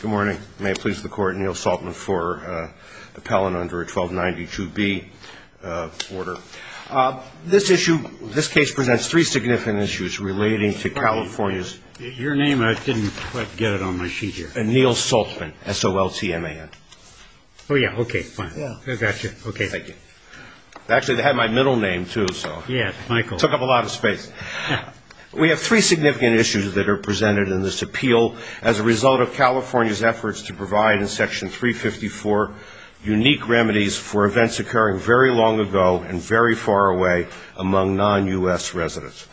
Good morning. May it please the Court, Neil Saltzman for the Pellin under a 1292B order. This issue, this case presents three significant issues relating to California's Your name, I didn't quite get it on my sheet here. Neil Saltzman, S-O-L-T-M-A-N. Oh, yeah, okay, fine. I got you. Okay. Thank you. Actually, they had my middle name, too, so. Yes, Michael. Took up a lot of space. We have three significant issues that are presented in this appeal as a result of California's efforts to provide in Section 354 unique remedies for events occurring very long ago and very far away among non-U.S. residents.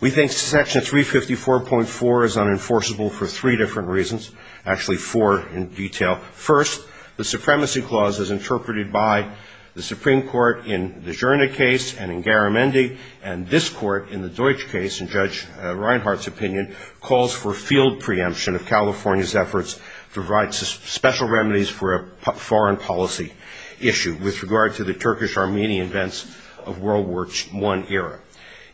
We think Section 354.4 is unenforceable for three different reasons, actually four in detail. First, the Supremacy Clause, as interpreted by the Supreme Court in the Giorna case and in Garamendi and this Court in the Deutsch case, in Judge Reinhardt's opinion, calls for a field preemption of California's efforts to provide special remedies for a foreign policy issue with regard to the Turkish-Armenian events of World War I era.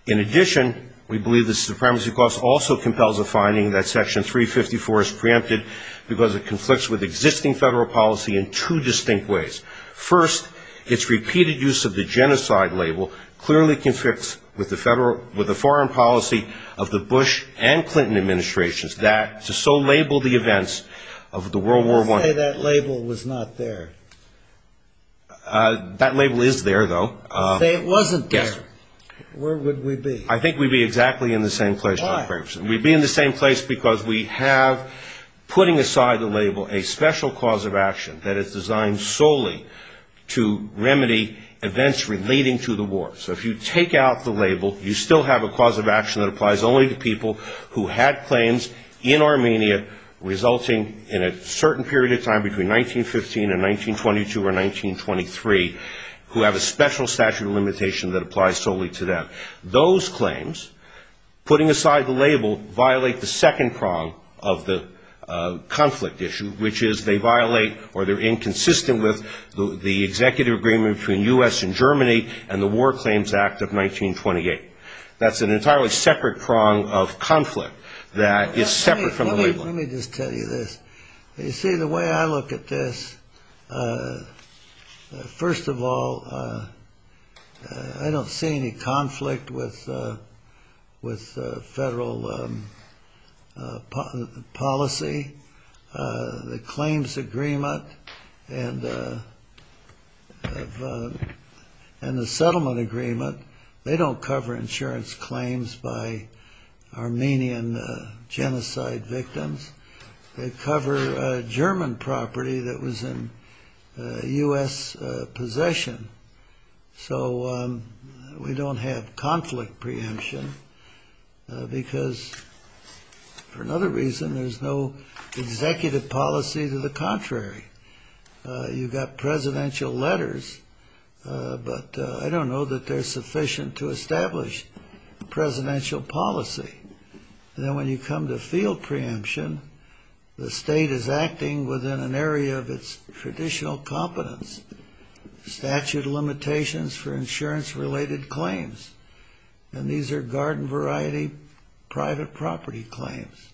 In addition, we believe the Supremacy Clause also compels a finding that Section 354 is preempted because it conflicts with existing federal policy in two distinct ways. First, its repeated use of the genocide label clearly conflicts with the foreign policy of the Bush and Clinton administrations that to so label the events of the World War I. Let's say that label was not there. That label is there, though. Let's say it wasn't there. Yes, sir. Where would we be? I think we'd be exactly in the same place. Why? We'd be in the same place because we have, putting aside the label, a special cause of action that is designed solely to remedy events relating to the war. So if you take out the label, you still have a cause of action that applies only to people who had claims in Armenia resulting in a certain period of time between 1915 and 1922 or 1923, who have a special statute of limitation that applies solely to them. Those claims, putting aside the label, violate the second prong of the conflict issue, which is they violate or they're inconsistent with the executive agreement between the U.S. and Germany and the War Claims Act of 1928. That's an entirely separate prong of conflict that is separate from the label. Let me just tell you this. You see, the way I look at this, first of all, I don't see any conflict with federal policy. The claims agreement and the settlement agreement, they don't cover insurance claims by Armenian genocide victims. They cover German property that was in U.S. possession. So we don't have conflict preemption because, for another reason, there's no executive policy to the contrary. You've got presidential letters, but I don't know that they're sufficient to establish presidential policy. Then when you come to field preemption, the state is acting within an area of its traditional competence, statute of limitations for insurance-related claims. And these are garden-variety private property claims,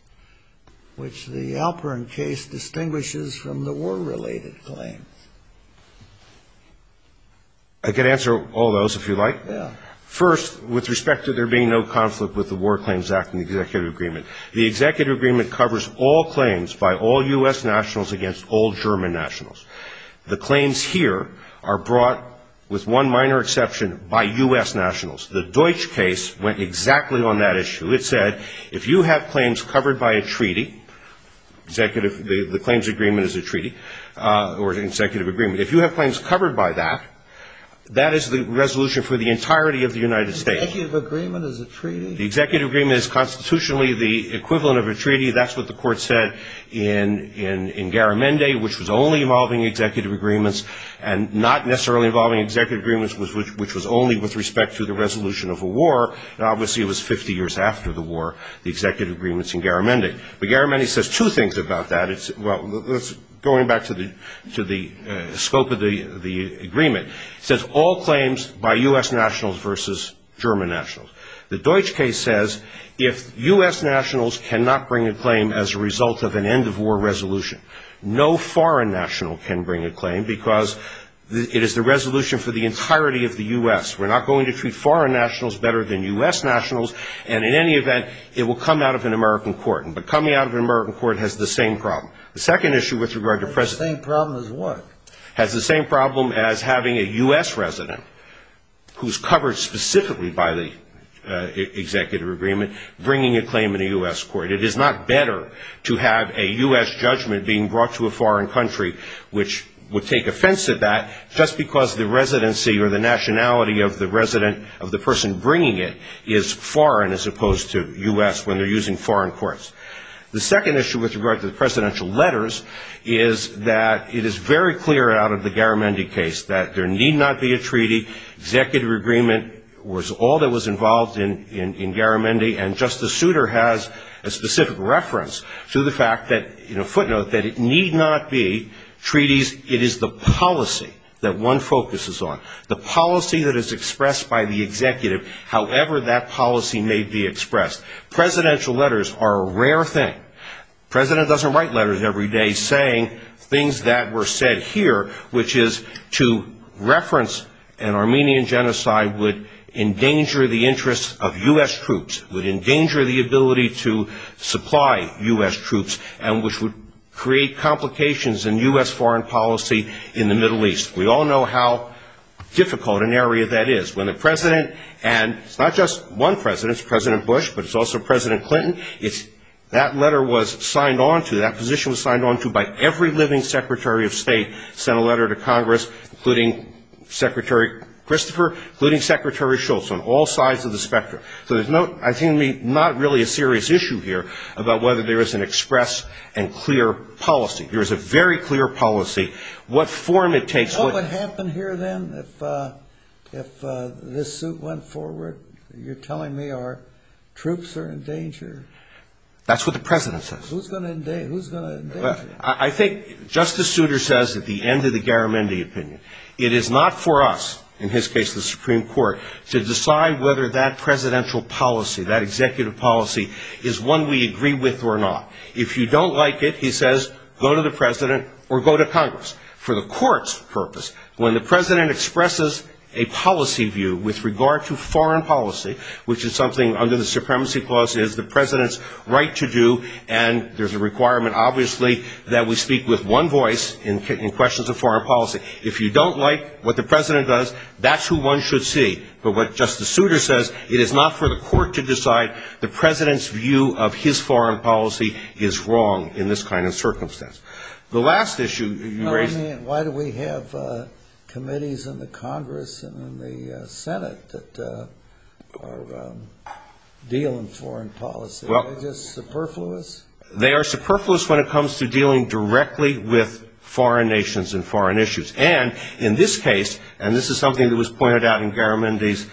which the Alperin case distinguishes from the war-related claims. I could answer all those if you'd like. First, with respect to there being no conflict with the War Claims Act and the executive agreement, the executive agreement covers all claims by all U.S. nationals against all German nationals. The claims here are brought, with one minor exception, by U.S. nationals. The Deutsch case went exactly on that issue. It said if you have claims covered by a treaty, the claims agreement is a treaty or an executive agreement, if you have claims covered by that, that is the resolution for the entirety of the United States. Executive agreement is a treaty? The executive agreement is constitutionally the equivalent of a treaty. That's what the court said in Garamendi, which was only involving executive agreements and not necessarily involving executive agreements, which was only with respect to the resolution of a war. Now, obviously, it was 50 years after the war, the executive agreements in Garamendi. But Garamendi says two things about that. Going back to the scope of the agreement, it says all claims by U.S. nationals versus German nationals. The Deutsch case says if U.S. nationals cannot bring a claim as a result of an end-of-war resolution, no foreign national can bring a claim because it is the resolution for the entirety of the U.S. We're not going to treat foreign nationals better than U.S. nationals, and in any event, it will come out of an American court. But coming out of an American court has the same problem. The second issue with regard to precedent... The same problem as what? Has the same problem as having a U.S. resident who's covered specifically by the executive agreement bringing a claim in a U.S. court. It is not better to have a U.S. judgment being brought to a foreign country, which would take offense to that, just because the residency or the nationality of the resident of the person bringing it is foreign as opposed to U.S. when they're using foreign courts. The second issue with regard to the presidential letters is that it is very clear out of the Garamendi case that there need not be a treaty. Executive agreement was all that was involved in Garamendi, and Justice Souter has a specific reference to the fact that, in a footnote, that it need not be treaties. It is the policy that one focuses on, the policy that is expressed by the executive, however that policy may be expressed. Presidential letters are a rare thing. The president doesn't write letters every day saying things that were said here, which is to reference an Armenian genocide would endanger the interests of U.S. troops, would endanger the ability to supply U.S. troops, and which would create complications in U.S. foreign policy in the Middle East. We all know how difficult an area that is. When the president, and it's not just one president, it's President Bush, but it's also President Clinton, that letter was signed on to, that position was signed on to by every living secretary of state, sent a letter to Congress, including Secretary Christopher, including Secretary Shultz, on all sides of the spectrum. So there's not really a serious issue here about whether there is an express and clear policy. There is a very clear policy. Do you know what would happen here then if this suit went forward? You're telling me our troops are in danger? That's what the president says. Who's going to endanger them? I think Justice Souter says at the end of the Garamendi opinion, it is not for us, in his case the Supreme Court, to decide whether that presidential policy, that executive policy, is one we agree with or not. If you don't like it, he says, go to the president or go to Congress. For the court's purpose, when the president expresses a policy view with regard to foreign policy, which is something under the Supremacy Clause is the president's right to do, and there's a requirement obviously that we speak with one voice in questions of foreign policy. If you don't like what the president does, that's who one should see. But what Justice Souter says, it is not for the court to decide the president's view of his foreign policy is wrong in this kind of circumstance. The last issue you raised... Why do we have committees in the Congress and in the Senate that deal in foreign policy? Are they just superfluous? They are superfluous when it comes to dealing directly with foreign nations and foreign issues. And in this case, and this is something that was pointed out in Garamendi's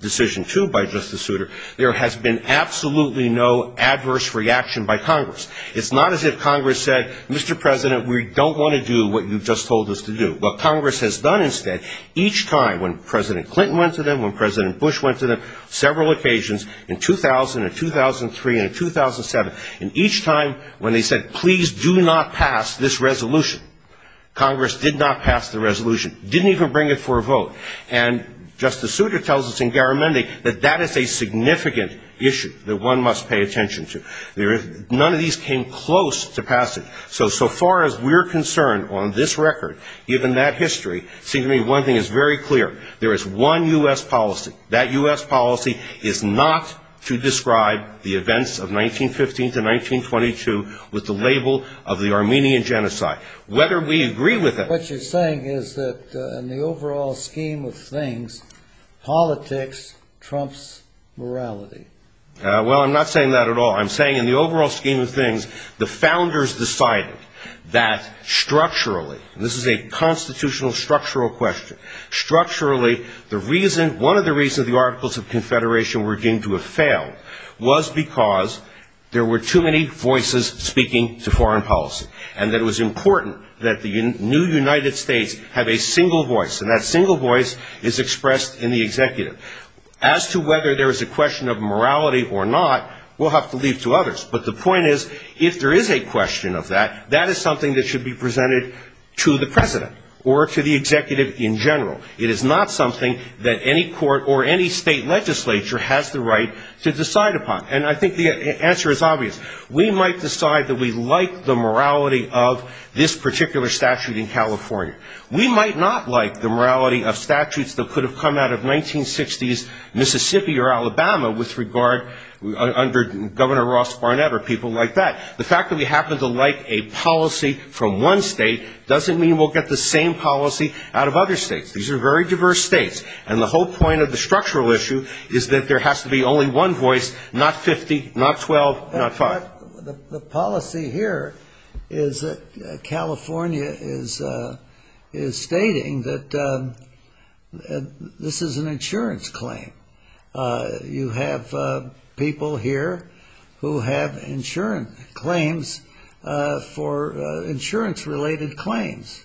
decision, too, by Justice Souter, there has been absolutely no adverse reaction by Congress. It's not as if Congress said, Mr. President, we don't want to do what you've just told us to do. What Congress has done instead, each time when President Clinton went to them, when President Bush went to them, several occasions in 2000 and 2003 and 2007, and each time when they said, please do not pass this resolution, Congress did not pass the resolution, didn't even bring it for a vote. And Justice Souter tells us in Garamendi that that is a significant issue that one must pay attention to. None of these came close to passage. So, so far as we're concerned on this record, given that history, it seems to me one thing is very clear. There is one U.S. policy. That U.S. policy is not to describe the events of 1915 to 1922 with the label of the Armenian Genocide. Whether we agree with it... In the overall scheme of things, politics trumps morality. Well, I'm not saying that at all. I'm saying in the overall scheme of things, the founders decided that structurally, and this is a constitutional structural question, structurally, the reason, one of the reasons the Articles of Confederation were deemed to have failed was because there were too many voices speaking to foreign policy. And that it was important that the new United States have a single voice. And that single voice is expressed in the executive. As to whether there is a question of morality or not, we'll have to leave it to others. But the point is, if there is a question of that, that is something that should be presented to the president or to the executive in general. It is not something that any court or any state legislature has the right to decide upon. And I think the answer is obvious. We might decide that we like the morality of this particular statute in California. We might not like the morality of statutes that could have come out of 1960s Mississippi or Alabama with regard under Governor Ross Barnett or people like that. The fact that we happen to like a policy from one state doesn't mean we'll get the same policy out of other states. These are very diverse states. And the whole point of the structural issue is that there has to be only one voice, not 50, not 12, not five. The policy here is that California is stating that this is an insurance claim. You have people here who have insurance claims for insurance-related claims.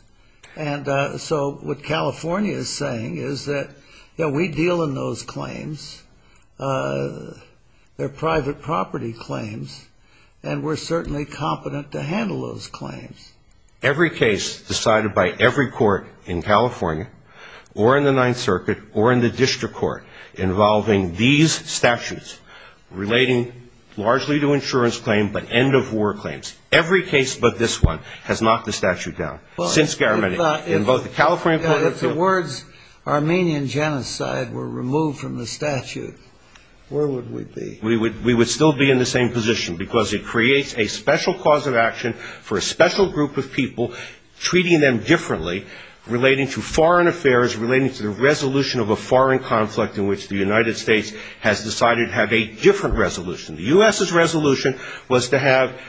And so what California is saying is that, you know, we deal in those claims. They're private property claims. And we're certainly competent to handle those claims. Every case decided by every court in California or in the Ninth Circuit or in the district court involving these statutes relating largely to insurance claims but end-of-war claims, every case but this one has knocked the statute down. If the words Armenian genocide were removed from the statute, where would we be? We would still be in the same position because it creates a special cause of action for a special group of people, treating them differently relating to foreign affairs, relating to the resolution of a foreign conflict in which the United States has decided to have a different resolution. The U.S.'s resolution was to have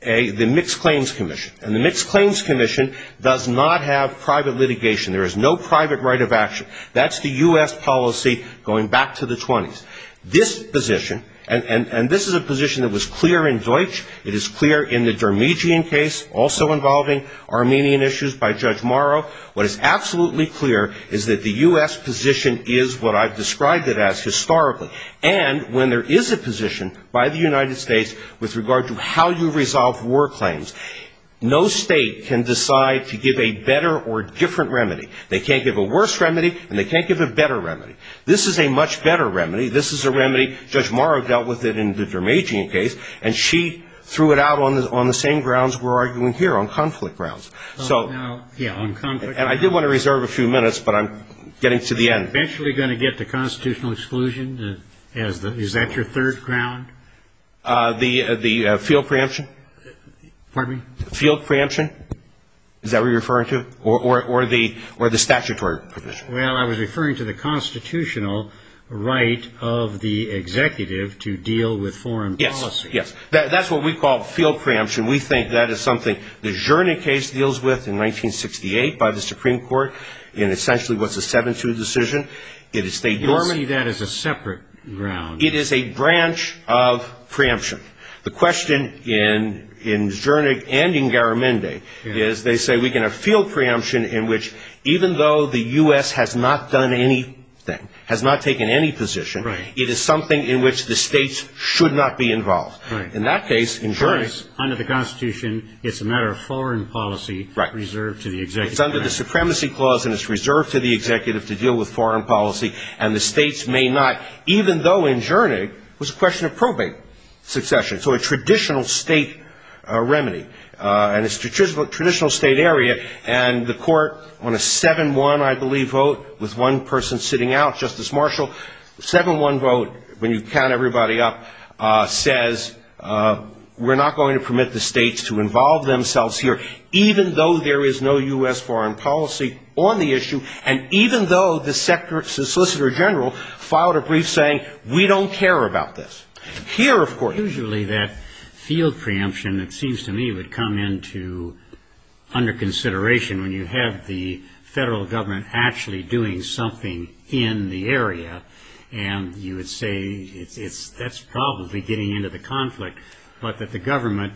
the Mixed Claims Commission. And the Mixed Claims Commission does not have private litigation. There is no private right of action. That's the U.S. policy going back to the 20s. This position, and this is a position that was clear in Deutsch. It is clear in the Dermijian case also involving Armenian issues by Judge Morrow. What is absolutely clear is that the U.S. position is what I've described it as historically. And when there is a position by the United States with regard to how you resolve war claims, no state can decide to give a better or different remedy. They can't give a worse remedy, and they can't give a better remedy. This is a much better remedy. This is a remedy. Judge Morrow dealt with it in the Dermijian case. And she threw it out on the same grounds we're arguing here, on conflict grounds. So, and I did want to reserve a few minutes, but I'm getting to the end. Eventually going to get to constitutional exclusion? Is that your third ground? The field preemption? Pardon me? Field preemption? Is that what you're referring to? Or the statutory provision? Well, I was referring to the constitutional right of the executive to deal with foreign policy. Yes, yes. That's what we call field preemption. We think that is something the Zschernin case deals with in 1968 by the Supreme Court, and essentially was a 7-2 decision. Normally that is a separate ground. It is a branch of preemption. The question in Zschernig and in Garamendi is they say we can have field preemption in which, even though the U.S. has not done anything, has not taken any position, it is something in which the states should not be involved. In that case, in Zschernig. Under the Constitution, it's a matter of foreign policy reserved to the executive. It's under the Supremacy Clause, and it's reserved to the executive to deal with foreign policy, and the states may not, even though in Zschernig it was a question of probate succession, so a traditional state remedy, and a traditional state area, and the court on a 7-1, I believe, vote with one person sitting out, Justice Marshall, 7-1 vote when you count everybody up says we're not going to permit the states to involve themselves here, even though there is no U.S. foreign policy on the issue, and even though the solicitor general filed a brief saying we don't care about this. Here, of course. Usually that field preemption, it seems to me, would come into under consideration when you have the federal government actually doing something in the area, and you would say that's probably getting into the conflict, but that the government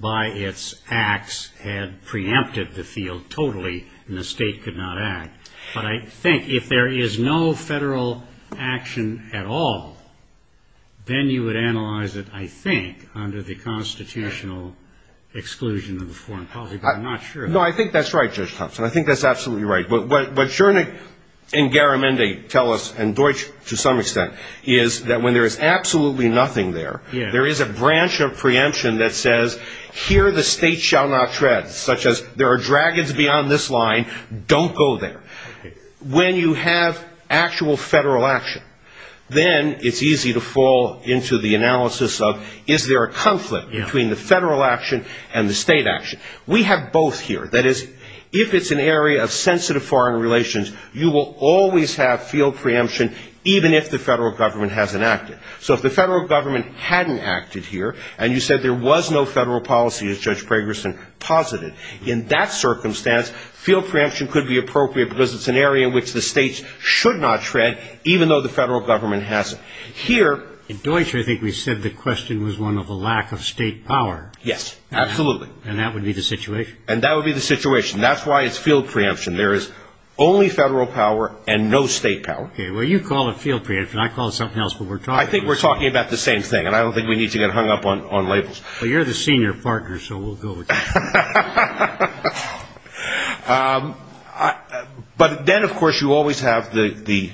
by its acts had preempted the field totally, and the state could not act. But I think if there is no federal action at all, then you would analyze it, I think, under the constitutional exclusion of the foreign policy, but I'm not sure. No, I think that's right, Judge Thompson. I think that's absolutely right. What Zschernig and Garamendi tell us, and Deutsch to some extent, is that when there is absolutely nothing there, there is a branch of preemption that says here the state shall not tread, such as there are dragons beyond this line, don't go there. When you have actual federal action, then it's easy to fall into the analysis of is there a conflict between the federal action and the state action. We have both here. That is, if it's an area of sensitive foreign relations, you will always have field preemption, even if the federal government hasn't acted. So if the federal government hadn't acted here, and you said there was no federal policy, as Judge Pragerson posited, in that circumstance, field preemption could be appropriate because it's an area in which the states should not tread, even though the federal government hasn't. Here ‑‑ In Deutsch, I think we said the question was one of a lack of state power. Yes, absolutely. And that would be the situation. And that would be the situation. That's why it's field preemption. There is only federal power and no state power. Okay. Well, you call it field preemption. I call it something else. I think we're talking about the same thing, and I don't think we need to get hung up on labels. Well, you're the senior partner, so we'll go with that. But then, of course, you always have the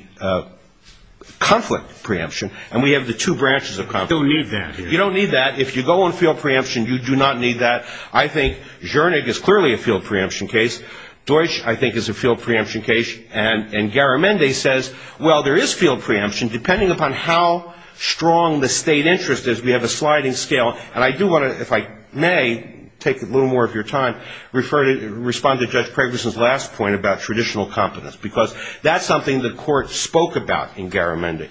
conflict preemption, and we have the two branches of conflict. You don't need that here. You don't need that. If you go on field preemption, you do not need that. I think Zschörnig is clearly a field preemption case. Deutsch, I think, is a field preemption case. And Garamendi says, well, there is field preemption. Depending upon how strong the state interest is, we have a sliding scale. And I do want to, if I may, take a little more of your time, respond to Judge Pragerson's last point about traditional competence, because that's something the court spoke about in Garamendi.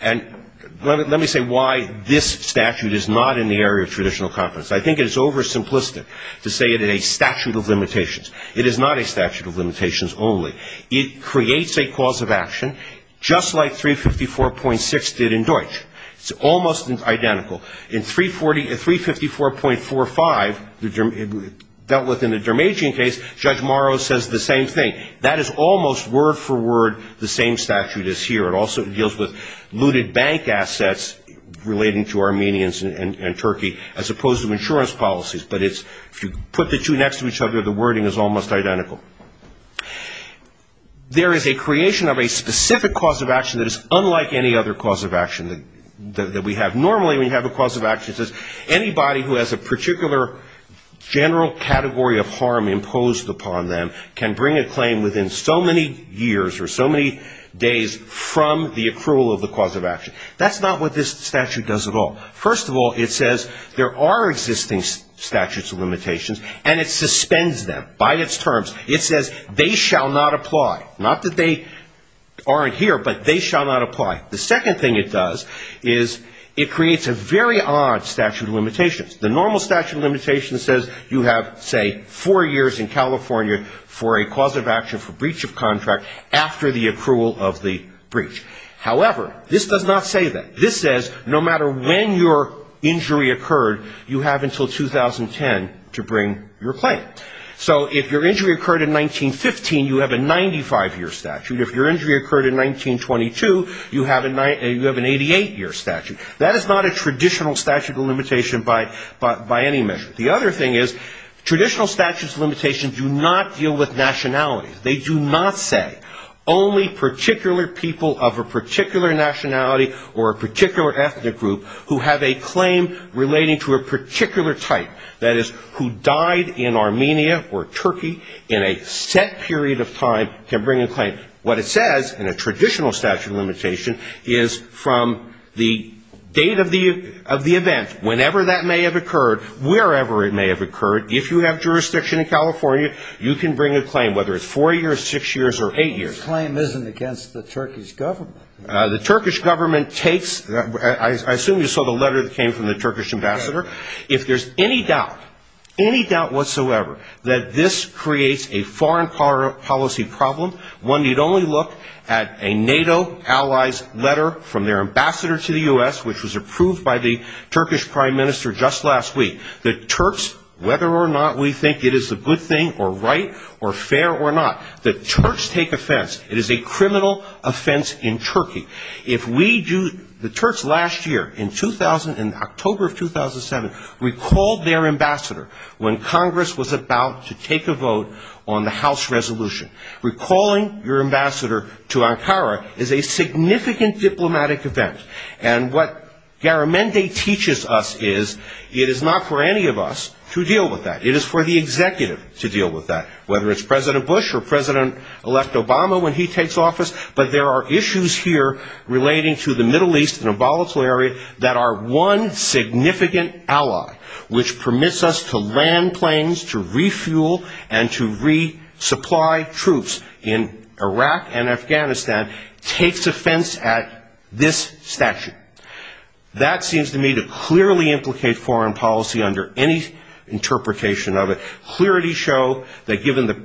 And let me say why this statute is not in the area of traditional competence. I think it's oversimplistic to say it is a statute of limitations. It is not a statute of limitations only. It creates a cause of action, just like 354.6 did in Deutsch. It's almost identical. In 354.45, dealt with in the Dermagian case, Judge Morrow says the same thing. That is almost word for word the same statute as here. It also deals with looted bank assets relating to Armenians and Turkey, as opposed to insurance policies. But if you put the two next to each other, the wording is almost identical. There is a creation of a specific cause of action that is unlike any other cause of action that we have. Normally, we have a cause of action that says anybody who has a particular general category of harm imposed upon them can bring a claim within so many years or so many days from the approval of the cause of action. That's not what this statute does at all. First of all, it says there are existing statutes of limitations, and it suspends them by its terms. It says they shall not apply. Not that they aren't here, but they shall not apply. The second thing it does is it creates a very odd statute of limitations. The normal statute of limitations says you have, say, four years in California for a cause of action for breach of contract after the accrual of the breach. However, this does not say that. This says no matter when your injury occurred, you have until 2010 to bring your claim. So if your injury occurred in 1915, you have a 95-year statute. If your injury occurred in 1922, you have an 88-year statute. That is not a traditional statute of limitation by any measure. The other thing is traditional statutes of limitations do not deal with nationalities. They do not say only particular people of a particular nationality or a particular ethnic group who have a claim relating to a particular type. That is, who died in Armenia or Turkey in a set period of time can bring a claim. What it says in a traditional statute of limitation is from the date of the event, whenever that may have occurred, wherever it may have occurred, if you have jurisdiction in California, you can bring a claim, whether it's four years, six years, or eight years. The claim isn't against the Turkish government. The Turkish government takes the ‑‑ I assume you saw the letter that came from the Turkish ambassador. If there's any doubt, any doubt whatsoever, that this creates a foreign policy problem, one need only look at a NATO allies letter from their ambassador to the U.S., which was approved by the Turkish prime minister just last week. The Turks, whether or not we think it is a good thing or right or fair or not, the Turks take offense. It is a criminal offense in Turkey. If we do ‑‑ the Turks last year in 2000, in October of 2007, recalled their ambassador when Congress was about to take a vote on the House resolution. Recalling your ambassador to Ankara is a significant diplomatic event. And what Garamendi teaches us is it is not for any of us to deal with that. It is for the executive to deal with that. Whether it's President Bush or President‑elect Obama when he takes office, but there are issues here relating to the Middle East in a volatile area that our one significant ally, which permits us to land planes, to refuel, and to resupply troops in Iraq and Afghanistan, takes offense at this statute. That seems to me to clearly implicate foreign policy under any interpretation of it. The clarity show that given the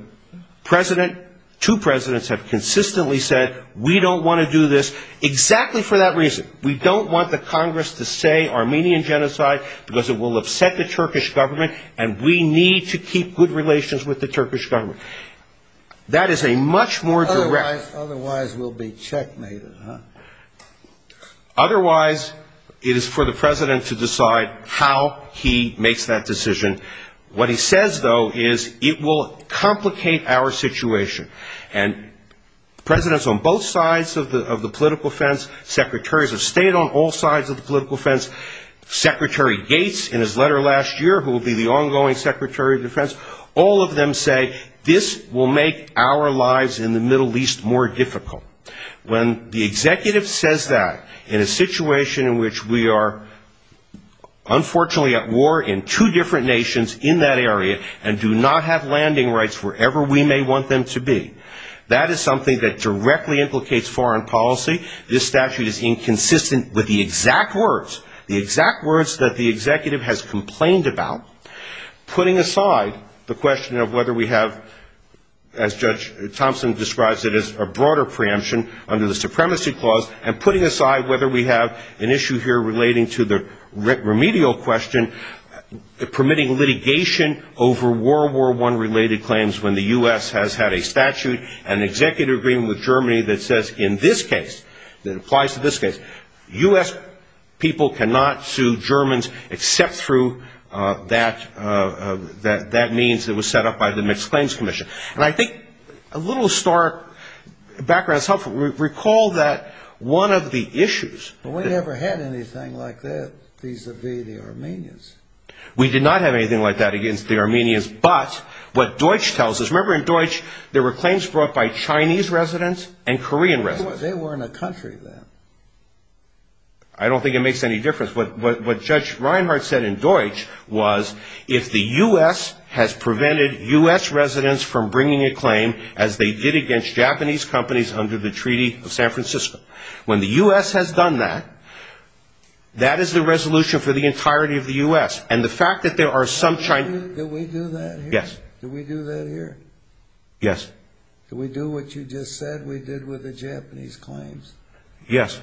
president, two presidents have consistently said, we don't want to do this, exactly for that reason. We don't want the Congress to say Armenian genocide because it will upset the Turkish government, and we need to keep good relations with the Turkish government. That is a much more direct ‑‑ Otherwise we'll be checkmated, huh? Otherwise it is for the president to decide how he makes that decision. What he says, though, is it will complicate our situation. And presidents on both sides of the political fence, secretaries of state on all sides of the political fence, Secretary Gates in his letter last year, who will be the ongoing secretary of defense, all of them say this will make our lives in the Middle East more difficult. When the executive says that in a situation in which we are unfortunately at war in two different nations in that area and do not have landing rights wherever we may want them to be, that is something that directly implicates foreign policy. This statute is inconsistent with the exact words, the exact words that the executive has complained about, putting aside the question of whether we have, as Judge Thompson describes it, a broader preemption under the Supremacy Clause, and putting aside whether we have an issue here relating to the remedial question, permitting litigation over World War I-related claims when the U.S. has had a statute and an executive agreement with Germany that says in this case, that applies to this case, U.S. people cannot sue Germans except through that means that was set up by the Mixed Claims Commission. Recall that one of the issues... We never had anything like that vis-à-vis the Armenians. We did not have anything like that against the Armenians, but what Deutsch tells us, remember in Deutsch there were claims brought by Chinese residents and Korean residents. They weren't a country then. I don't think it makes any difference. What Judge Reinhart said in Deutsch was if the U.S. has prevented U.S. residents from bringing a claim as they did against Japanese companies under the Treaty of San Francisco. When the U.S. has done that, that is the resolution for the entirety of the U.S., and the fact that there are some Chinese... Did we do that here? Yes. Did we do that here? Yes. Did we do what you just said we did with the Japanese claims? Yes.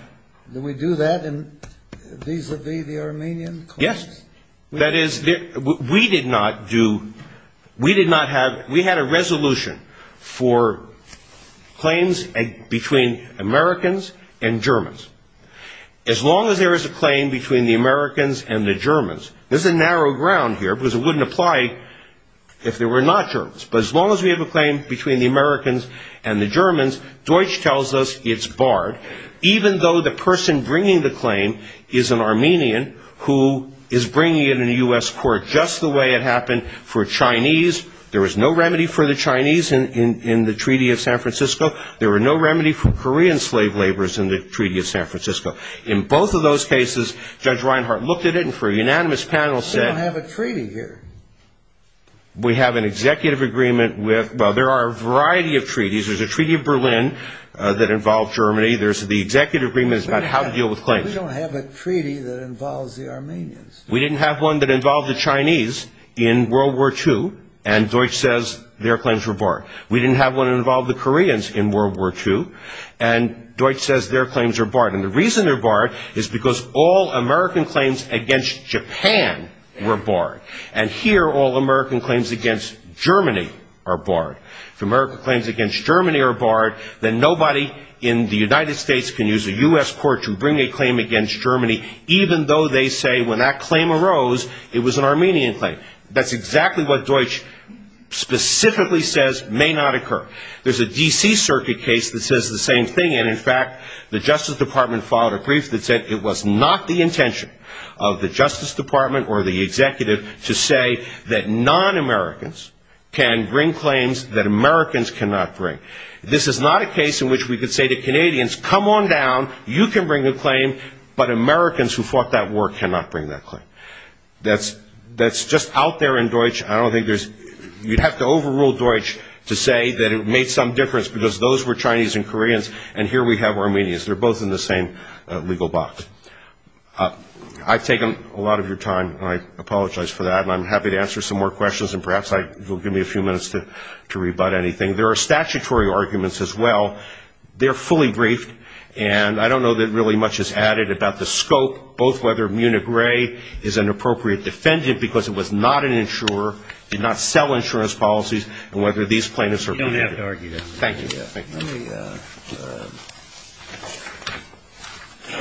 Did we do that vis-à-vis the Armenian claims? Yes. That is, we did not do... We did not have... We had a resolution for claims between Americans and Germans. As long as there is a claim between the Americans and the Germans, there's a narrow ground here because it wouldn't apply if there were not Germans, but as long as we have a claim between the Americans and the Germans, Deutsch tells us it's barred, even though the person bringing the claim is an Armenian who is bringing it into U.S. court just the way it happened for Chinese. There was no remedy for the Chinese in the Treaty of San Francisco. There were no remedy for Korean slave laborers in the Treaty of San Francisco. In both of those cases, Judge Reinhart looked at it, and for a unanimous panel said... We don't have a treaty here. We have an executive agreement with... Well, there are a variety of treaties. There's a treaty of Berlin that involved Germany. There's the executive agreement about how to deal with claims. We don't have a treaty that involves the Armenians. We didn't have one that involved the Chinese in World War II, and Deutsch says their claims were barred. We didn't have one that involved the Koreans in World War II, and Deutsch says their claims are barred. And the reason they're barred is because all American claims against Japan were barred. And here, all American claims against Germany are barred. If American claims against Germany are barred, then nobody in the United States can use a U.S. court to bring a claim against Germany, even though they say when that claim arose, it was an Armenian claim. That's exactly what Deutsch specifically says may not occur. There's a D.C. circuit case that says the same thing, and in fact, the Justice Department filed a brief that said it was not the intention of the Justice Department or the executive to say that non-Americans can bring claims that Americans cannot bring. This is not a case in which we could say to Canadians, come on down, you can bring a claim, but Americans who fought that war cannot bring that claim. That's just out there in Deutsch. You'd have to overrule Deutsch to say that it made some difference because those were Chinese and Koreans, and here we have Armenians. They're both in the same legal box. I've taken a lot of your time, and I apologize for that, and I'm happy to answer some more questions, and perhaps you'll give me a few minutes to rebut anything. There are statutory arguments as well. They're fully briefed, and I don't know that really much is added about the scope, both whether Muni Gray is an appropriate defendant because it was not an insurer, did not sell insurance policies, and whether these plaintiffs are convicted. You don't have to argue that. Thank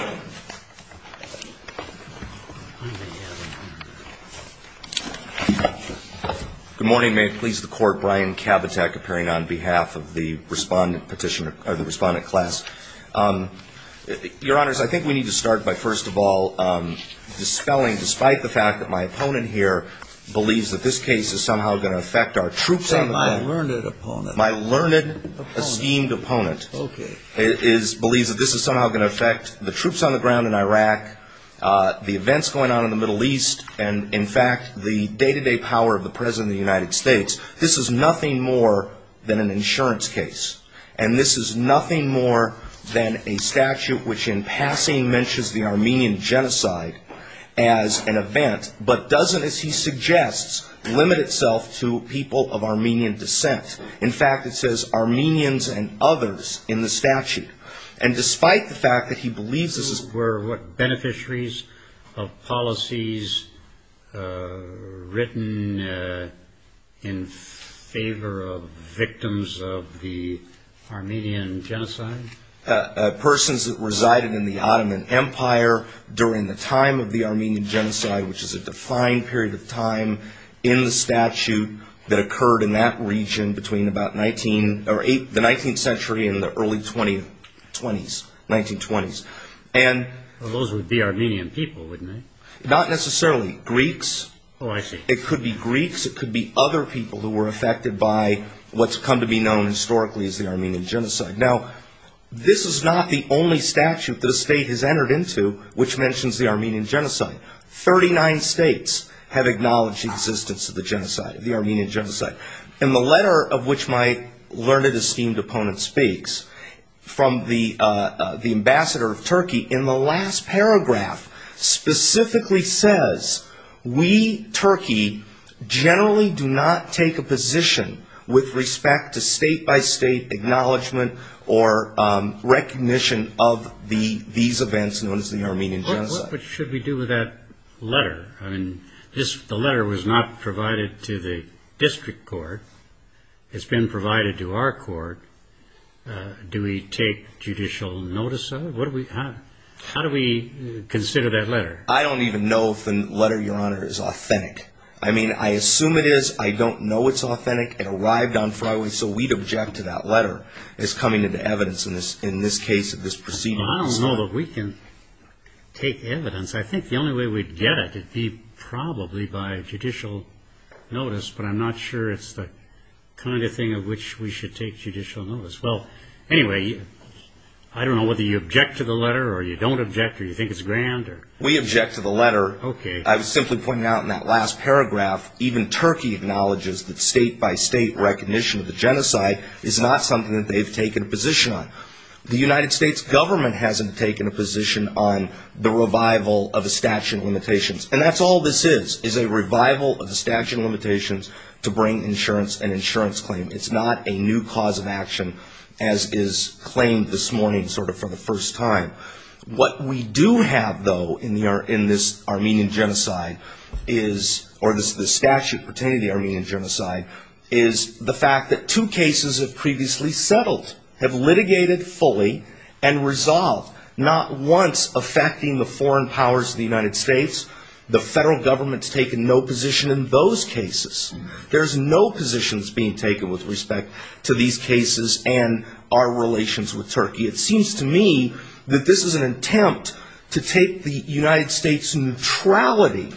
you. Good morning. May it please the Court. Brian Kabatek appearing on behalf of the Respondent Petitioner or the Respondent Class. Your Honors, I think we need to start by, first of all, dispelling, despite the fact that my opponent here believes that this case is somehow going to affect our troops. My learned assistant. My learned opponent. My well-schemed opponent believes that this is somehow going to affect the troops on the ground in Iraq, the events going on in the Middle East, and, in fact, the day-to-day power of the President of the United States. This is nothing more than an insurance case, and this is nothing more than a statute which in passing mentions the Armenian Genocide as an event, but doesn't, as he suggests, limit itself to people of Armenian descent. In fact, it says Armenians and others in the statute, and despite the fact that he believes this is Who were beneficiaries of policies written in favor of victims of the Armenian Genocide? Persons that resided in the Ottoman Empire during the time of the Armenian Genocide, which is a defined period of time in the statute that occurred in that region between the 19th century and the early 1920s. 1920s. Those would be Armenian people, wouldn't they? Not necessarily. Greeks. Oh, I see. It could be Greeks. It could be other people who were affected by what's come to be known historically as the Armenian Genocide. Now, this is not the only statute that a state has entered into which mentions the Armenian Genocide. Thirty-nine states have acknowledged the existence of the Armenian Genocide. In the letter of which my learned, esteemed opponent speaks from the ambassador of Turkey, in the last paragraph specifically says, We, Turkey, generally do not take a position with respect to state-by-state acknowledgement or recognition of these events known as the Armenian Genocide. What should we do with that letter? I mean, the letter was not provided to the district court. It's been provided to our court. Do we take judicial notice of it? How do we consider that letter? I don't even know if the letter, Your Honor, is authentic. I mean, I assume it is. I don't know it's authentic. It arrived on Friday, so we'd object to that letter as coming into evidence in this case of this proceeding. Well, I don't know that we can take evidence. I think the only way we'd get it would be probably by judicial notice, but I'm not sure it's the kind of thing of which we should take judicial notice. Well, anyway, I don't know whether you object to the letter or you don't object or you think it's grand. We object to the letter. Okay. I was simply pointing out in that last paragraph, even Turkey acknowledges that state-by-state recognition of the genocide is not something that they've taken a position on. The United States government hasn't taken a position on the revival of the statute of limitations, and that's all this is, is a revival of the statute of limitations to bring insurance and insurance claim. It's not a new cause of action as is claimed this morning sort of for the first time. What we do have, though, in this Armenian genocide is, or this statute pertaining to the Armenian genocide, is the fact that two cases have previously settled, have litigated fully, and resolved, not once affecting the foreign powers of the United States. The federal government's taken no position in those cases. There's no positions being taken with respect to these cases and our relations with Turkey. It seems to me that this is an attempt to take the United States' neutrality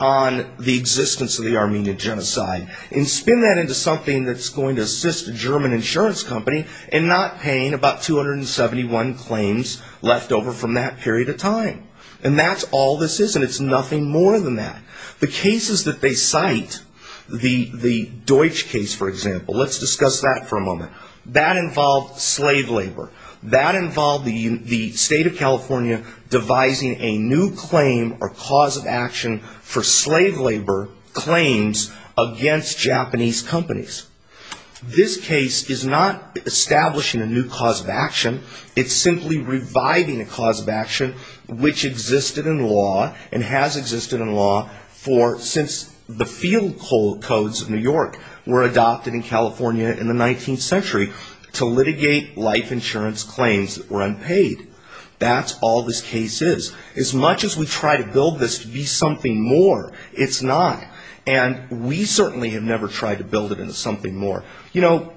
on the existence of the Armenian genocide and spin that into something that's going to assist a German insurance company in not paying about 271 claims left over from that period of time. And that's all this is, and it's nothing more than that. The cases that they cite, the Deutsch case, for example, let's discuss that for a moment. That involved slave labor. That involved the state of California devising a new claim or cause of action for slave labor claims against Japanese companies. This case is not establishing a new cause of action. It's simply reviving a cause of action which existed in law and has existed in law since the field codes of New York were adopted in California in the 19th century to litigate life insurance claims that were unpaid. That's all this case is. As much as we try to build this to be something more, it's not. And we certainly have never tried to build it into something more. You know,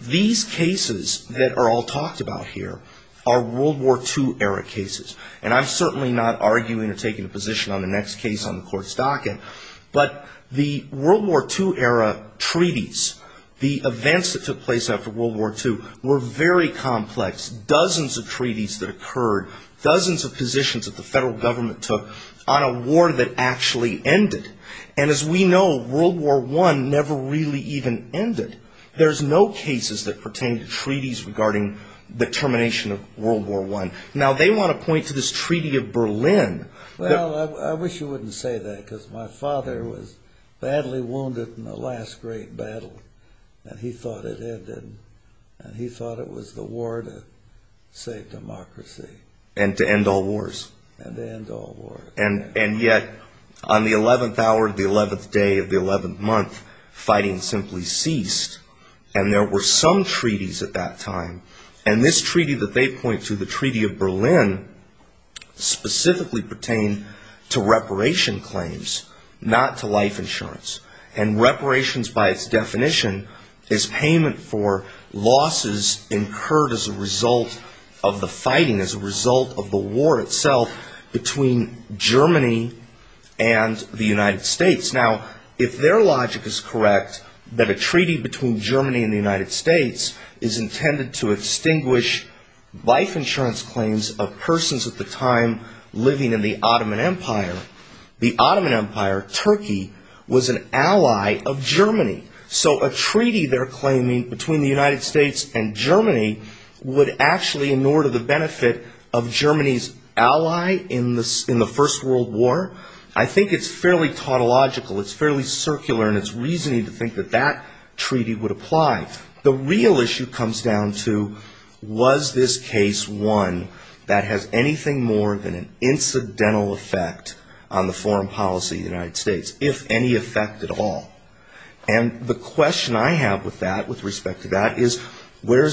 these cases that are all talked about here are World War II-era cases. And I'm certainly not arguing or taking a position on the next case on the Court's docket. But the World War II-era treaties, the events that took place after World War II, were very complex. Dozens of treaties that occurred. Dozens of positions that the federal government took on a war that actually ended. And as we know, World War I never really even ended. There's no cases that pertain to treaties regarding the termination of World War I. Now, they want to point to this Treaty of Berlin. Well, I wish you wouldn't say that, because my father was badly wounded in the last great battle. And he thought it ended. And he thought it was the war to save democracy. And to end all wars. And to end all wars. And yet, on the 11th hour of the 11th day of the 11th month, fighting simply ceased. And there were some treaties at that time. And this treaty that they point to, the Treaty of Berlin, specifically pertained to reparation claims. Not to life insurance. And reparations by its definition is payment for losses incurred as a result of the fighting, as a result of the war itself, between Germany and the United States. Now, if their logic is correct, that a treaty between Germany and the United States is intended to extinguish life insurance claims of persons at the time living in the Ottoman Empire, the Ottoman Empire, Turkey, was an ally of Germany. So a treaty they're claiming between the United States and Germany would actually in order the benefit of Germany's ally in the First World War? I think it's fairly tautological. It's fairly circular in its reasoning to think that that treaty would apply. The real issue comes down to was this case one that has anything more than an incidental effect on the foreign policy of the United States? If any effect at all. And the question I have with that, with respect to that, is where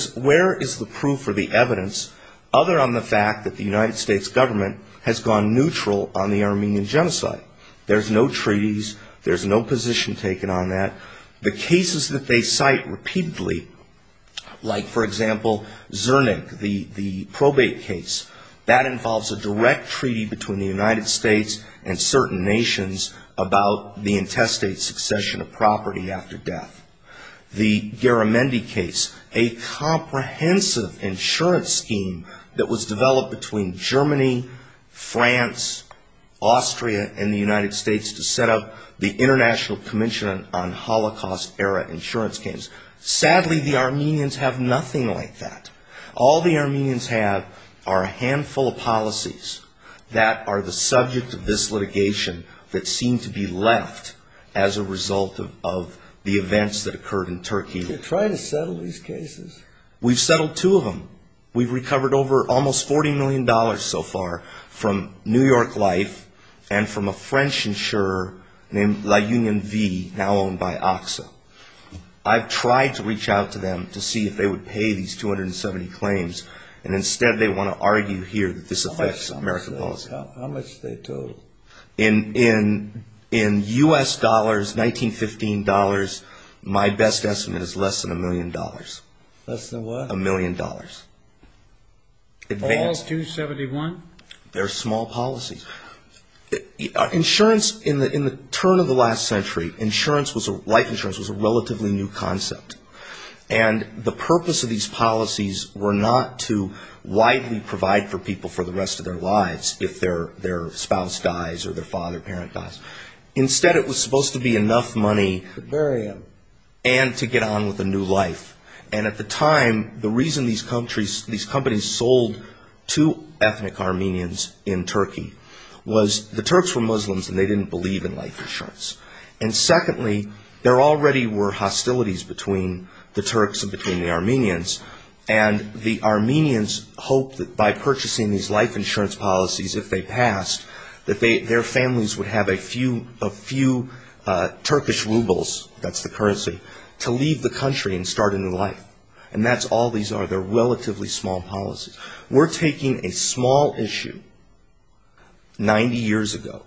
is the proof or the evidence, other on the fact that the United States government has gone neutral on the Armenian genocide? There's no treaties. There's no position taken on that. The cases that they cite repeatedly, like, for example, Zernick, the probate case, that involves a direct treaty between the United States and certain nations about the intestate succession of property after death. The Garamendi case, a comprehensive insurance scheme that was developed between Germany, France, Austria, and the United States to set up the International Commission on Holocaust-Era Insurance Schemes. Sadly, the Armenians have nothing like that. All the Armenians have are a handful of policies that are the subject of this litigation that seem to be left as a result of the events that occurred in Turkey. Do you try to settle these cases? We've settled two of them. We've recovered over almost $40 million so far from New York Life and from a French insurer named La Union V, now owned by AXA. I've tried to reach out to them to see if they would pay these 270 claims, and instead they want to argue here that this affects American policy. How much do they total? In U.S. dollars, 1915 dollars, my best estimate is less than a million dollars. Less than what? A million dollars. All 271? They're small policies. Insurance, in the turn of the last century, life insurance was a relatively new concept. And the purpose of these policies were not to widely provide for people for the rest of their lives if their spouse dies or their father or parent dies. Instead, it was supposed to be enough money and to get on with a new life. And at the time, the reason these companies sold to ethnic Armenians in Turkey was the Turks were Muslims and they didn't believe in life insurance. And secondly, there already were hostilities between the Turks and between the Armenians, and the Armenians hoped that by purchasing these life insurance policies, if they passed, that their families would have a few Turkish rubles, that's the currency, to leave the country and start a new life. And that's all these are. They're relatively small policies. We're taking a small issue 90 years ago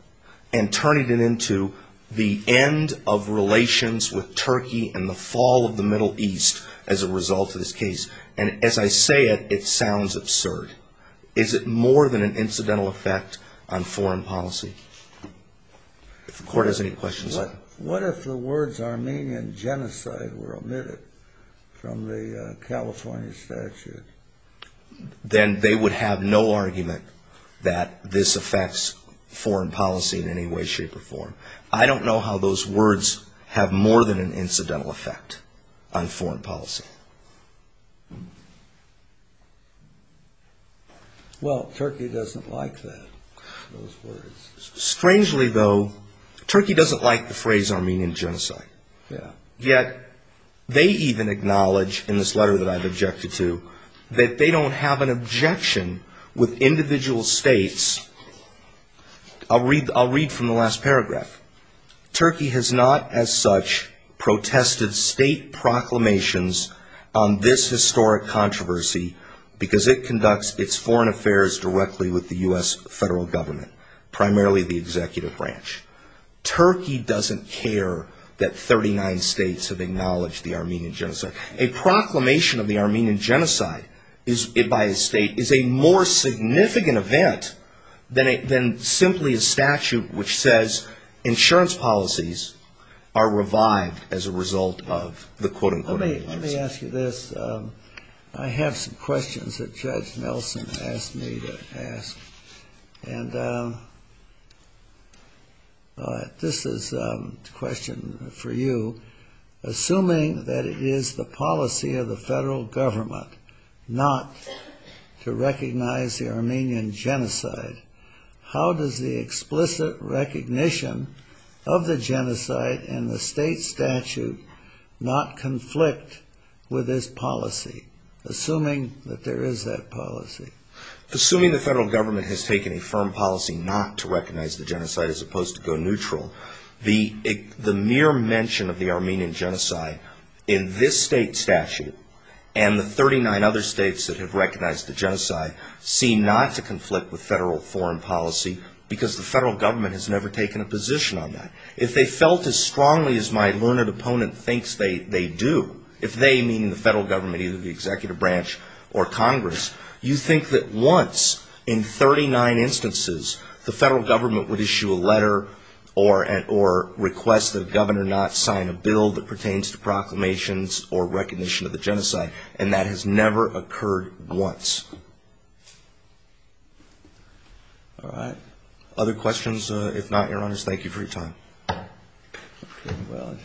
and turning it into the end of relations with Turkey and the fall of the Middle East as a result of this case. And as I say it, it sounds absurd. Is it more than an incidental effect on foreign policy? If the court has any questions. What if the words Armenian genocide were omitted from the California statute? Then they would have no argument that this affects foreign policy in any way, shape or form. I don't know how those words have more than an incidental effect on foreign policy. Well, Turkey doesn't like that, those words. Strangely, though, Turkey doesn't like the phrase Armenian genocide. Yet, they even acknowledge in this letter that I've objected to, that they don't have an objection with individual states. I'll read from the last paragraph. Turkey has not as such protested state proclamations on this historic controversy because it conducts its foreign affairs directly with the U.S. federal government, primarily the executive branch. Turkey doesn't care that 39 states have acknowledged the Armenian genocide. A proclamation of the Armenian genocide by a state is a more significant event than simply a statute which says insurance policies are revived as a result of the quote, unquote. Let me ask you this. I have some questions that Judge Nelson asked me to ask. And this is a question for you. Assuming that it is the policy of the federal government not to recognize the Armenian genocide, how does the explicit recognition of the genocide in the state statute not conflict with this policy, assuming that there is that policy? Assuming the federal government has taken a firm policy not to recognize the genocide as opposed to go neutral, the mere mention of the Armenian genocide in this state statute and the 39 other states that have recognized the genocide seem not to conflict with federal foreign policy because the federal government has never taken a position on that. If they felt as strongly as my learned opponent thinks they do, if they meaning the federal government, either the executive branch or Congress, you think that once in 39 instances the federal government would issue a letter or request that a governor not sign a bill that pertains to proclamations or recognition of the genocide. And that has never occurred once. All right. Other questions? If not, Your Honors, thank you for your time. Okay, well.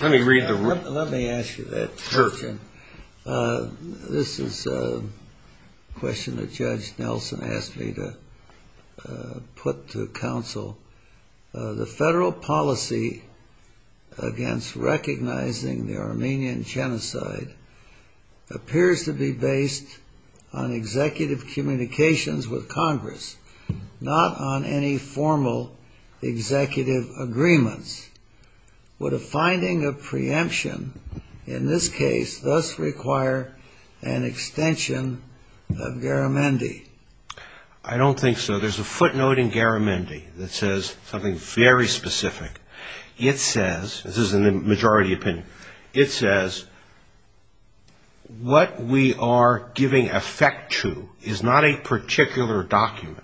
Let me read the report. Let me ask you that question. This is a question that Judge Nelson asked me to put to counsel. The federal policy against recognizing the Armenian genocide appears to be based on executive communications with Congress, not on any formal executive agreements. Would a finding of preemption in this case thus require an extension of Garamendi? I don't think so. There's a footnote in Garamendi that says something very specific. It says, this is in the majority opinion, it says what we are giving effect to is not a particular document,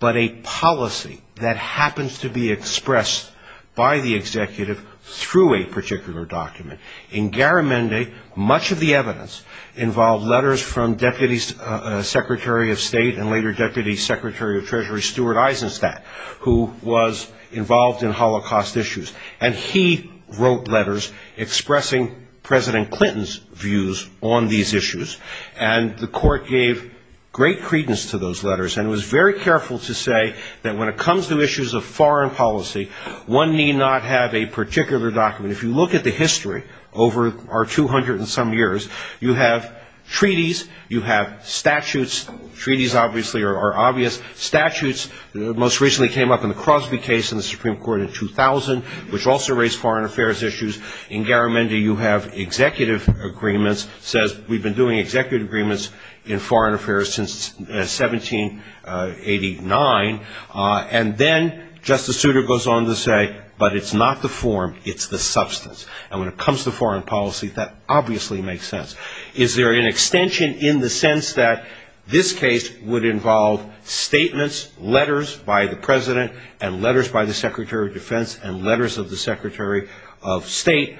but a policy that happens to be expressed by the executive through a particular document. In Garamendi, much of the evidence involved letters from Deputy Secretary of State and later Deputy Secretary of Treasury Stuart Eisenstadt, who was involved in Holocaust issues. And he wrote letters expressing President Clinton's views on these issues. And the court gave great credence to those letters and was very careful to say that when it comes to issues of foreign policy, one need not have a particular document. If you look at the history over our 200 and some years, you have treaties, you have statutes. Treaties, obviously, are obvious. Statutes most recently came up in the Crosby case in the Supreme Court in 2000. Which also raised foreign affairs issues. In Garamendi, you have executive agreements. It says we've been doing executive agreements in foreign affairs since 1789. And then Justice Souter goes on to say, but it's not the form, it's the substance. And when it comes to foreign policy, that obviously makes sense. Is there an extension in the sense that this case would involve statements, letters by the President and letters by the Secretary of Defense and letters of the Secretary of State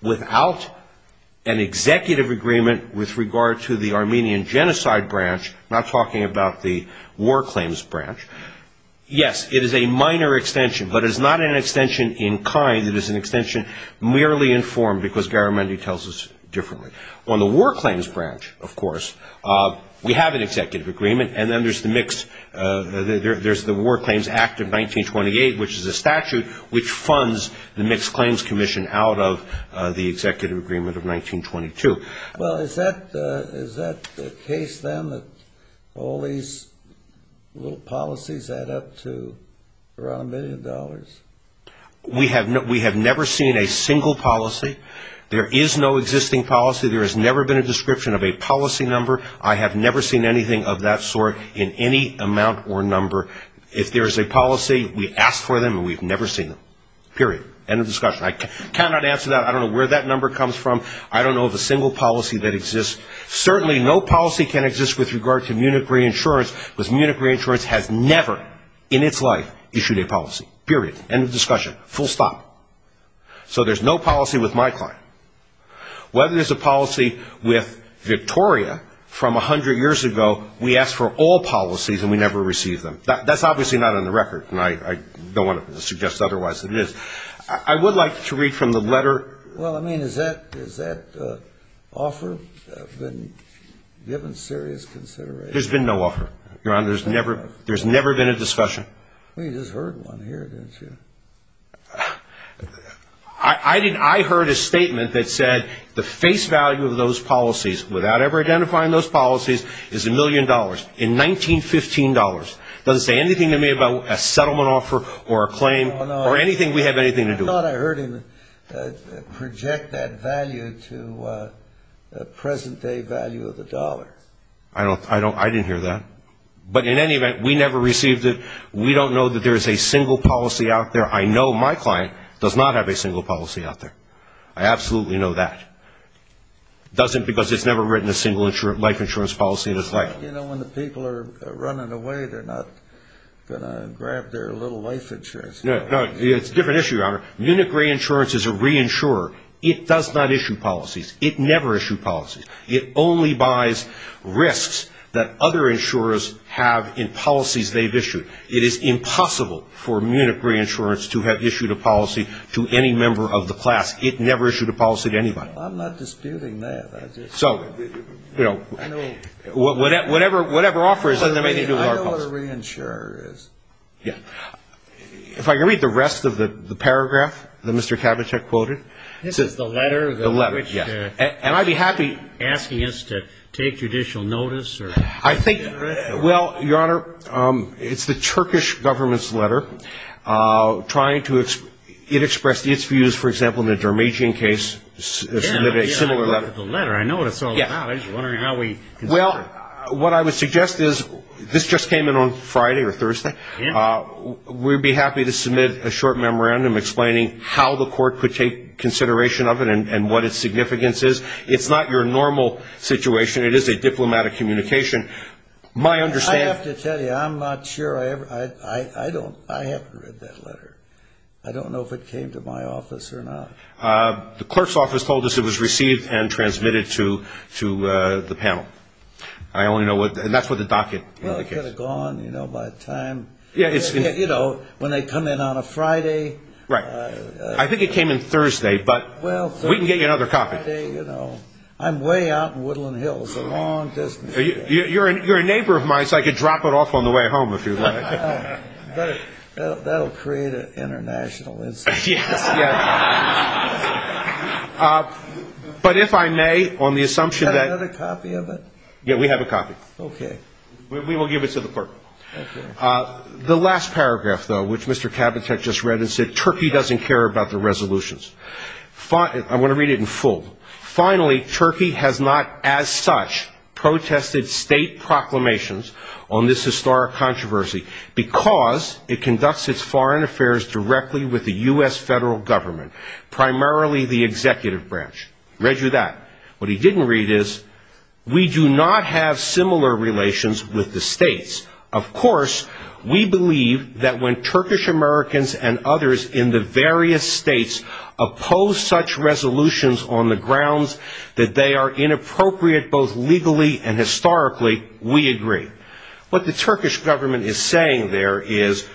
without an executive agreement with regard to the Armenian Genocide Branch, not talking about the War Claims Branch? Yes, it is a minor extension, but it is not an extension in kind. It is an extension merely in form, because Garamendi tells us differently. On the War Claims Branch, of course, we have an executive agreement. And then there's the War Claims Act of 1928, which is a statute, which funds the Mixed Claims Commission out of the executive agreement of 1922. Well, is that the case, then, that all these little policies add up to around a million dollars? We have never seen a single policy. There is no existing policy. There has never been a description of a policy number. I have never seen anything of that sort in any amount or number. If there is a policy, we ask for them, and we've never seen them, period. End of discussion. I cannot answer that. I don't know where that number comes from. I don't know of a single policy that exists. Certainly no policy can exist with regard to Munich Reinsurance, because Munich Reinsurance has never in its life issued a policy, period. End of discussion. Full stop. So there's no policy with my client. Whether there's a policy with Victoria from a hundred years ago, we ask for all policies and we never receive them. That's obviously not on the record, and I don't want to suggest otherwise than it is. I would like to read from the letter. Well, I mean, is that offer given serious consideration? There's been no offer, Your Honor. There's never been a discussion. Well, you just heard one here, didn't you? I heard a statement that said the face value of those policies, without ever identifying those policies, is a million dollars. In 1915 dollars. It doesn't say anything to me about a settlement offer or a claim or anything we have anything to do with. I thought I heard him project that value to the present-day value of the dollar. I didn't hear that. But in any event, we never received it. We don't know that there is a single policy out there. I know my client does not have a single policy out there. I absolutely know that. It doesn't because it's never written a single life insurance policy in his life. You know, when the people are running away, they're not going to grab their little life insurance. No, it's a different issue, Your Honor. Munich Reinsurance is a reinsurer. It does not issue policies. It never issued policies. It only buys risks that other insurers have in policies they've issued. It is impossible for Munich Reinsurance to have issued a policy to any member of the class. It never issued a policy to anybody. I'm not disputing that. So, you know, whatever offer is in there, it has nothing to do with our policy. I know what a reinsurer is. If I can read the rest of the paragraph that Mr. Kavicek quoted. This is the letter? The letter, yes. And I'd be happy. Asking us to take judicial notice? I think, well, Your Honor, it's the Turkish government's letter. It expressed its views, for example, in the Darmadian case. It submitted a similar letter. I know what it's all about. I'm just wondering how we consider it. Well, what I would suggest is this just came in on Friday or Thursday. We'd be happy to submit a short memorandum explaining how the court could take consideration of it and what its significance is. It's not your normal situation. It is a diplomatic communication. I have to tell you, I'm not sure. I haven't read that letter. I don't know if it came to my office or not. The clerk's office told us it was received and transmitted to the panel. And that's what the docket indicates. Well, it could have gone, you know, by time. Right. I think it came in Thursday. But we can get you another copy. You know, I'm way out in Woodland Hills, a long distance. You're a neighbor of mine, so I could drop it off on the way home if you'd like. That will create an international incident. Yes, yes. But if I may, on the assumption that we have a copy. Okay. We will give it to the clerk. The last paragraph, though, which Mr. Kabatek just read and said, Turkey doesn't care about the resolutions. I'm going to read it in full. Finally, Turkey has not as such protested state proclamations on this historic controversy because it conducts its foreign affairs directly with the U.S. federal government, primarily the executive branch. Read you that. What he didn't read is, What the Turkish government is saying there is,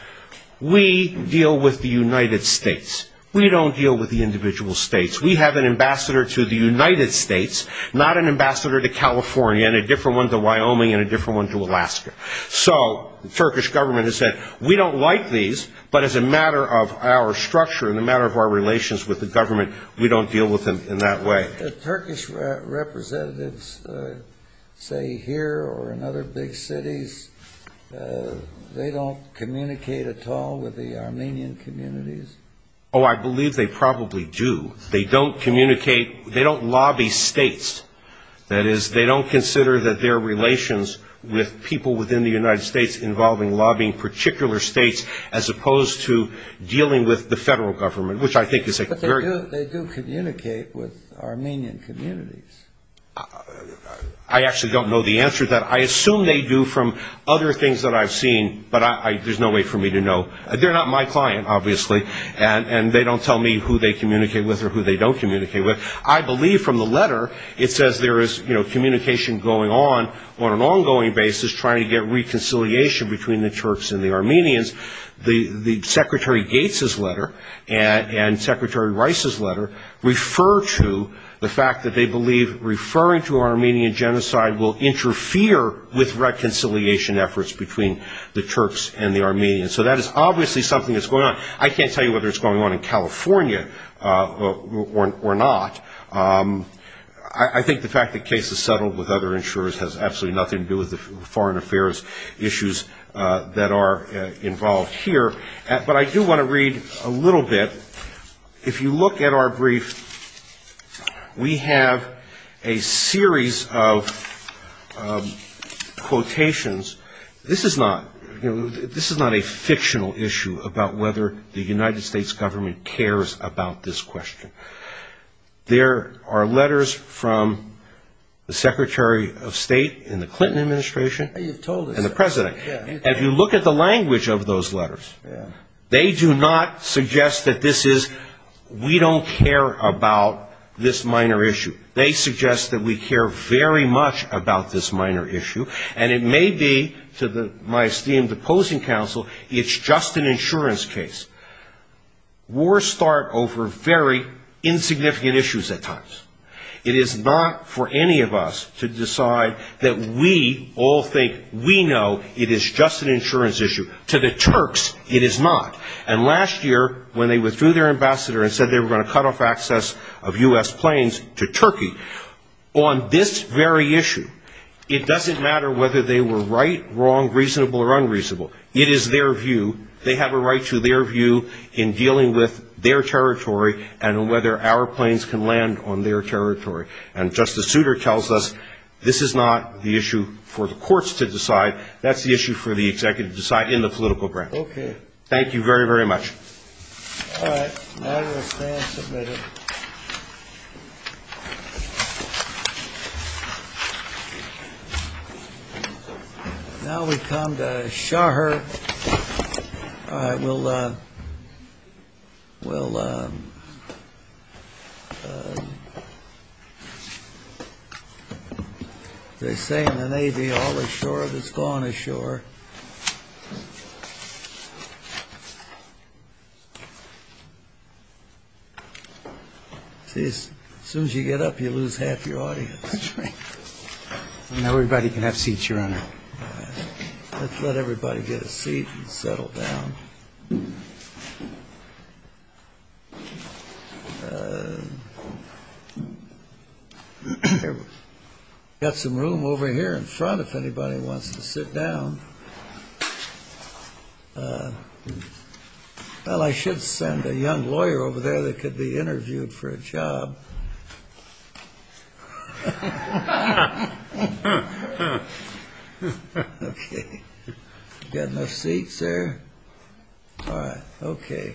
we deal with the United States. We don't deal with the individual states. We have an ambassador to the United States, not an ambassador to California and a different one to Wyoming and a different one to Alaska. So the Turkish government has said, we don't like these, but as a matter of our structure and a matter of our relations with the government, we don't deal with them in that way. The Turkish representatives say here or in other big cities, they don't communicate at all with the Armenian communities. Oh, I believe they probably do. They don't communicate. They don't lobby states. That is, they don't consider that their relations with people within the United States involving lobbying particular states as opposed to dealing with the federal government, which I think is a very But they do communicate with Armenian communities. I actually don't know the answer to that. I assume they do from other things that I've seen, but there's no way for me to know. They're not my client, obviously, and they don't tell me who they communicate with or who they don't communicate with. I believe from the letter, it says there is communication going on on an ongoing basis, trying to get reconciliation between the Turks and the Armenians. The Secretary Gates' letter and Secretary Rice's letter refer to the fact that they believe referring to Armenian genocide will interfere with reconciliation efforts between the Turks and the Armenians. So that is obviously something that's going on. I can't tell you whether it's going on in California or not. I think the fact that the case is settled with other insurers has absolutely nothing to do with the foreign affairs issues that are involved here. But I do want to read a little bit. If you look at our brief, we have a series of quotations. This is not a fictional issue about whether the United States government cares about this question. There are letters from the Secretary of State in the Clinton administration and the President. If you look at the language of those letters, they do not suggest that this is, we don't care about this minor issue. They suggest that we care very much about this minor issue, and it may be, to my esteemed opposing counsel, it's just an insurance case. Wars start over very insignificant issues at times. It is not for any of us to decide that we all think we know it is just an insurance issue. To the Turks, it is not. And last year, when they withdrew their ambassador and said they were going to cut off access of U.S. planes to Turkey, on this very issue, it doesn't matter whether they were right, wrong, reasonable, or unreasonable. It is their view. They have a right to their view in dealing with their territory and whether our planes can land on their territory. And Justice Souter tells us this is not the issue for the courts to decide. That's the issue for the executive to decide in the political branch. Thank you very, very much. All right. Now we'll stand submitted. Now we come to Shahr. All right, we'll, we'll, they say in the Navy, all ashore that's gone ashore. See, as soon as you get up, you lose half your audience. And everybody can have seats, Your Honor. Let's let everybody get a seat and settle down. Got some room over here in front if anybody wants to sit down. Well, I should send a young lawyer over there that could be interviewed for a job. Okay. Got enough seats there? All right. Okay.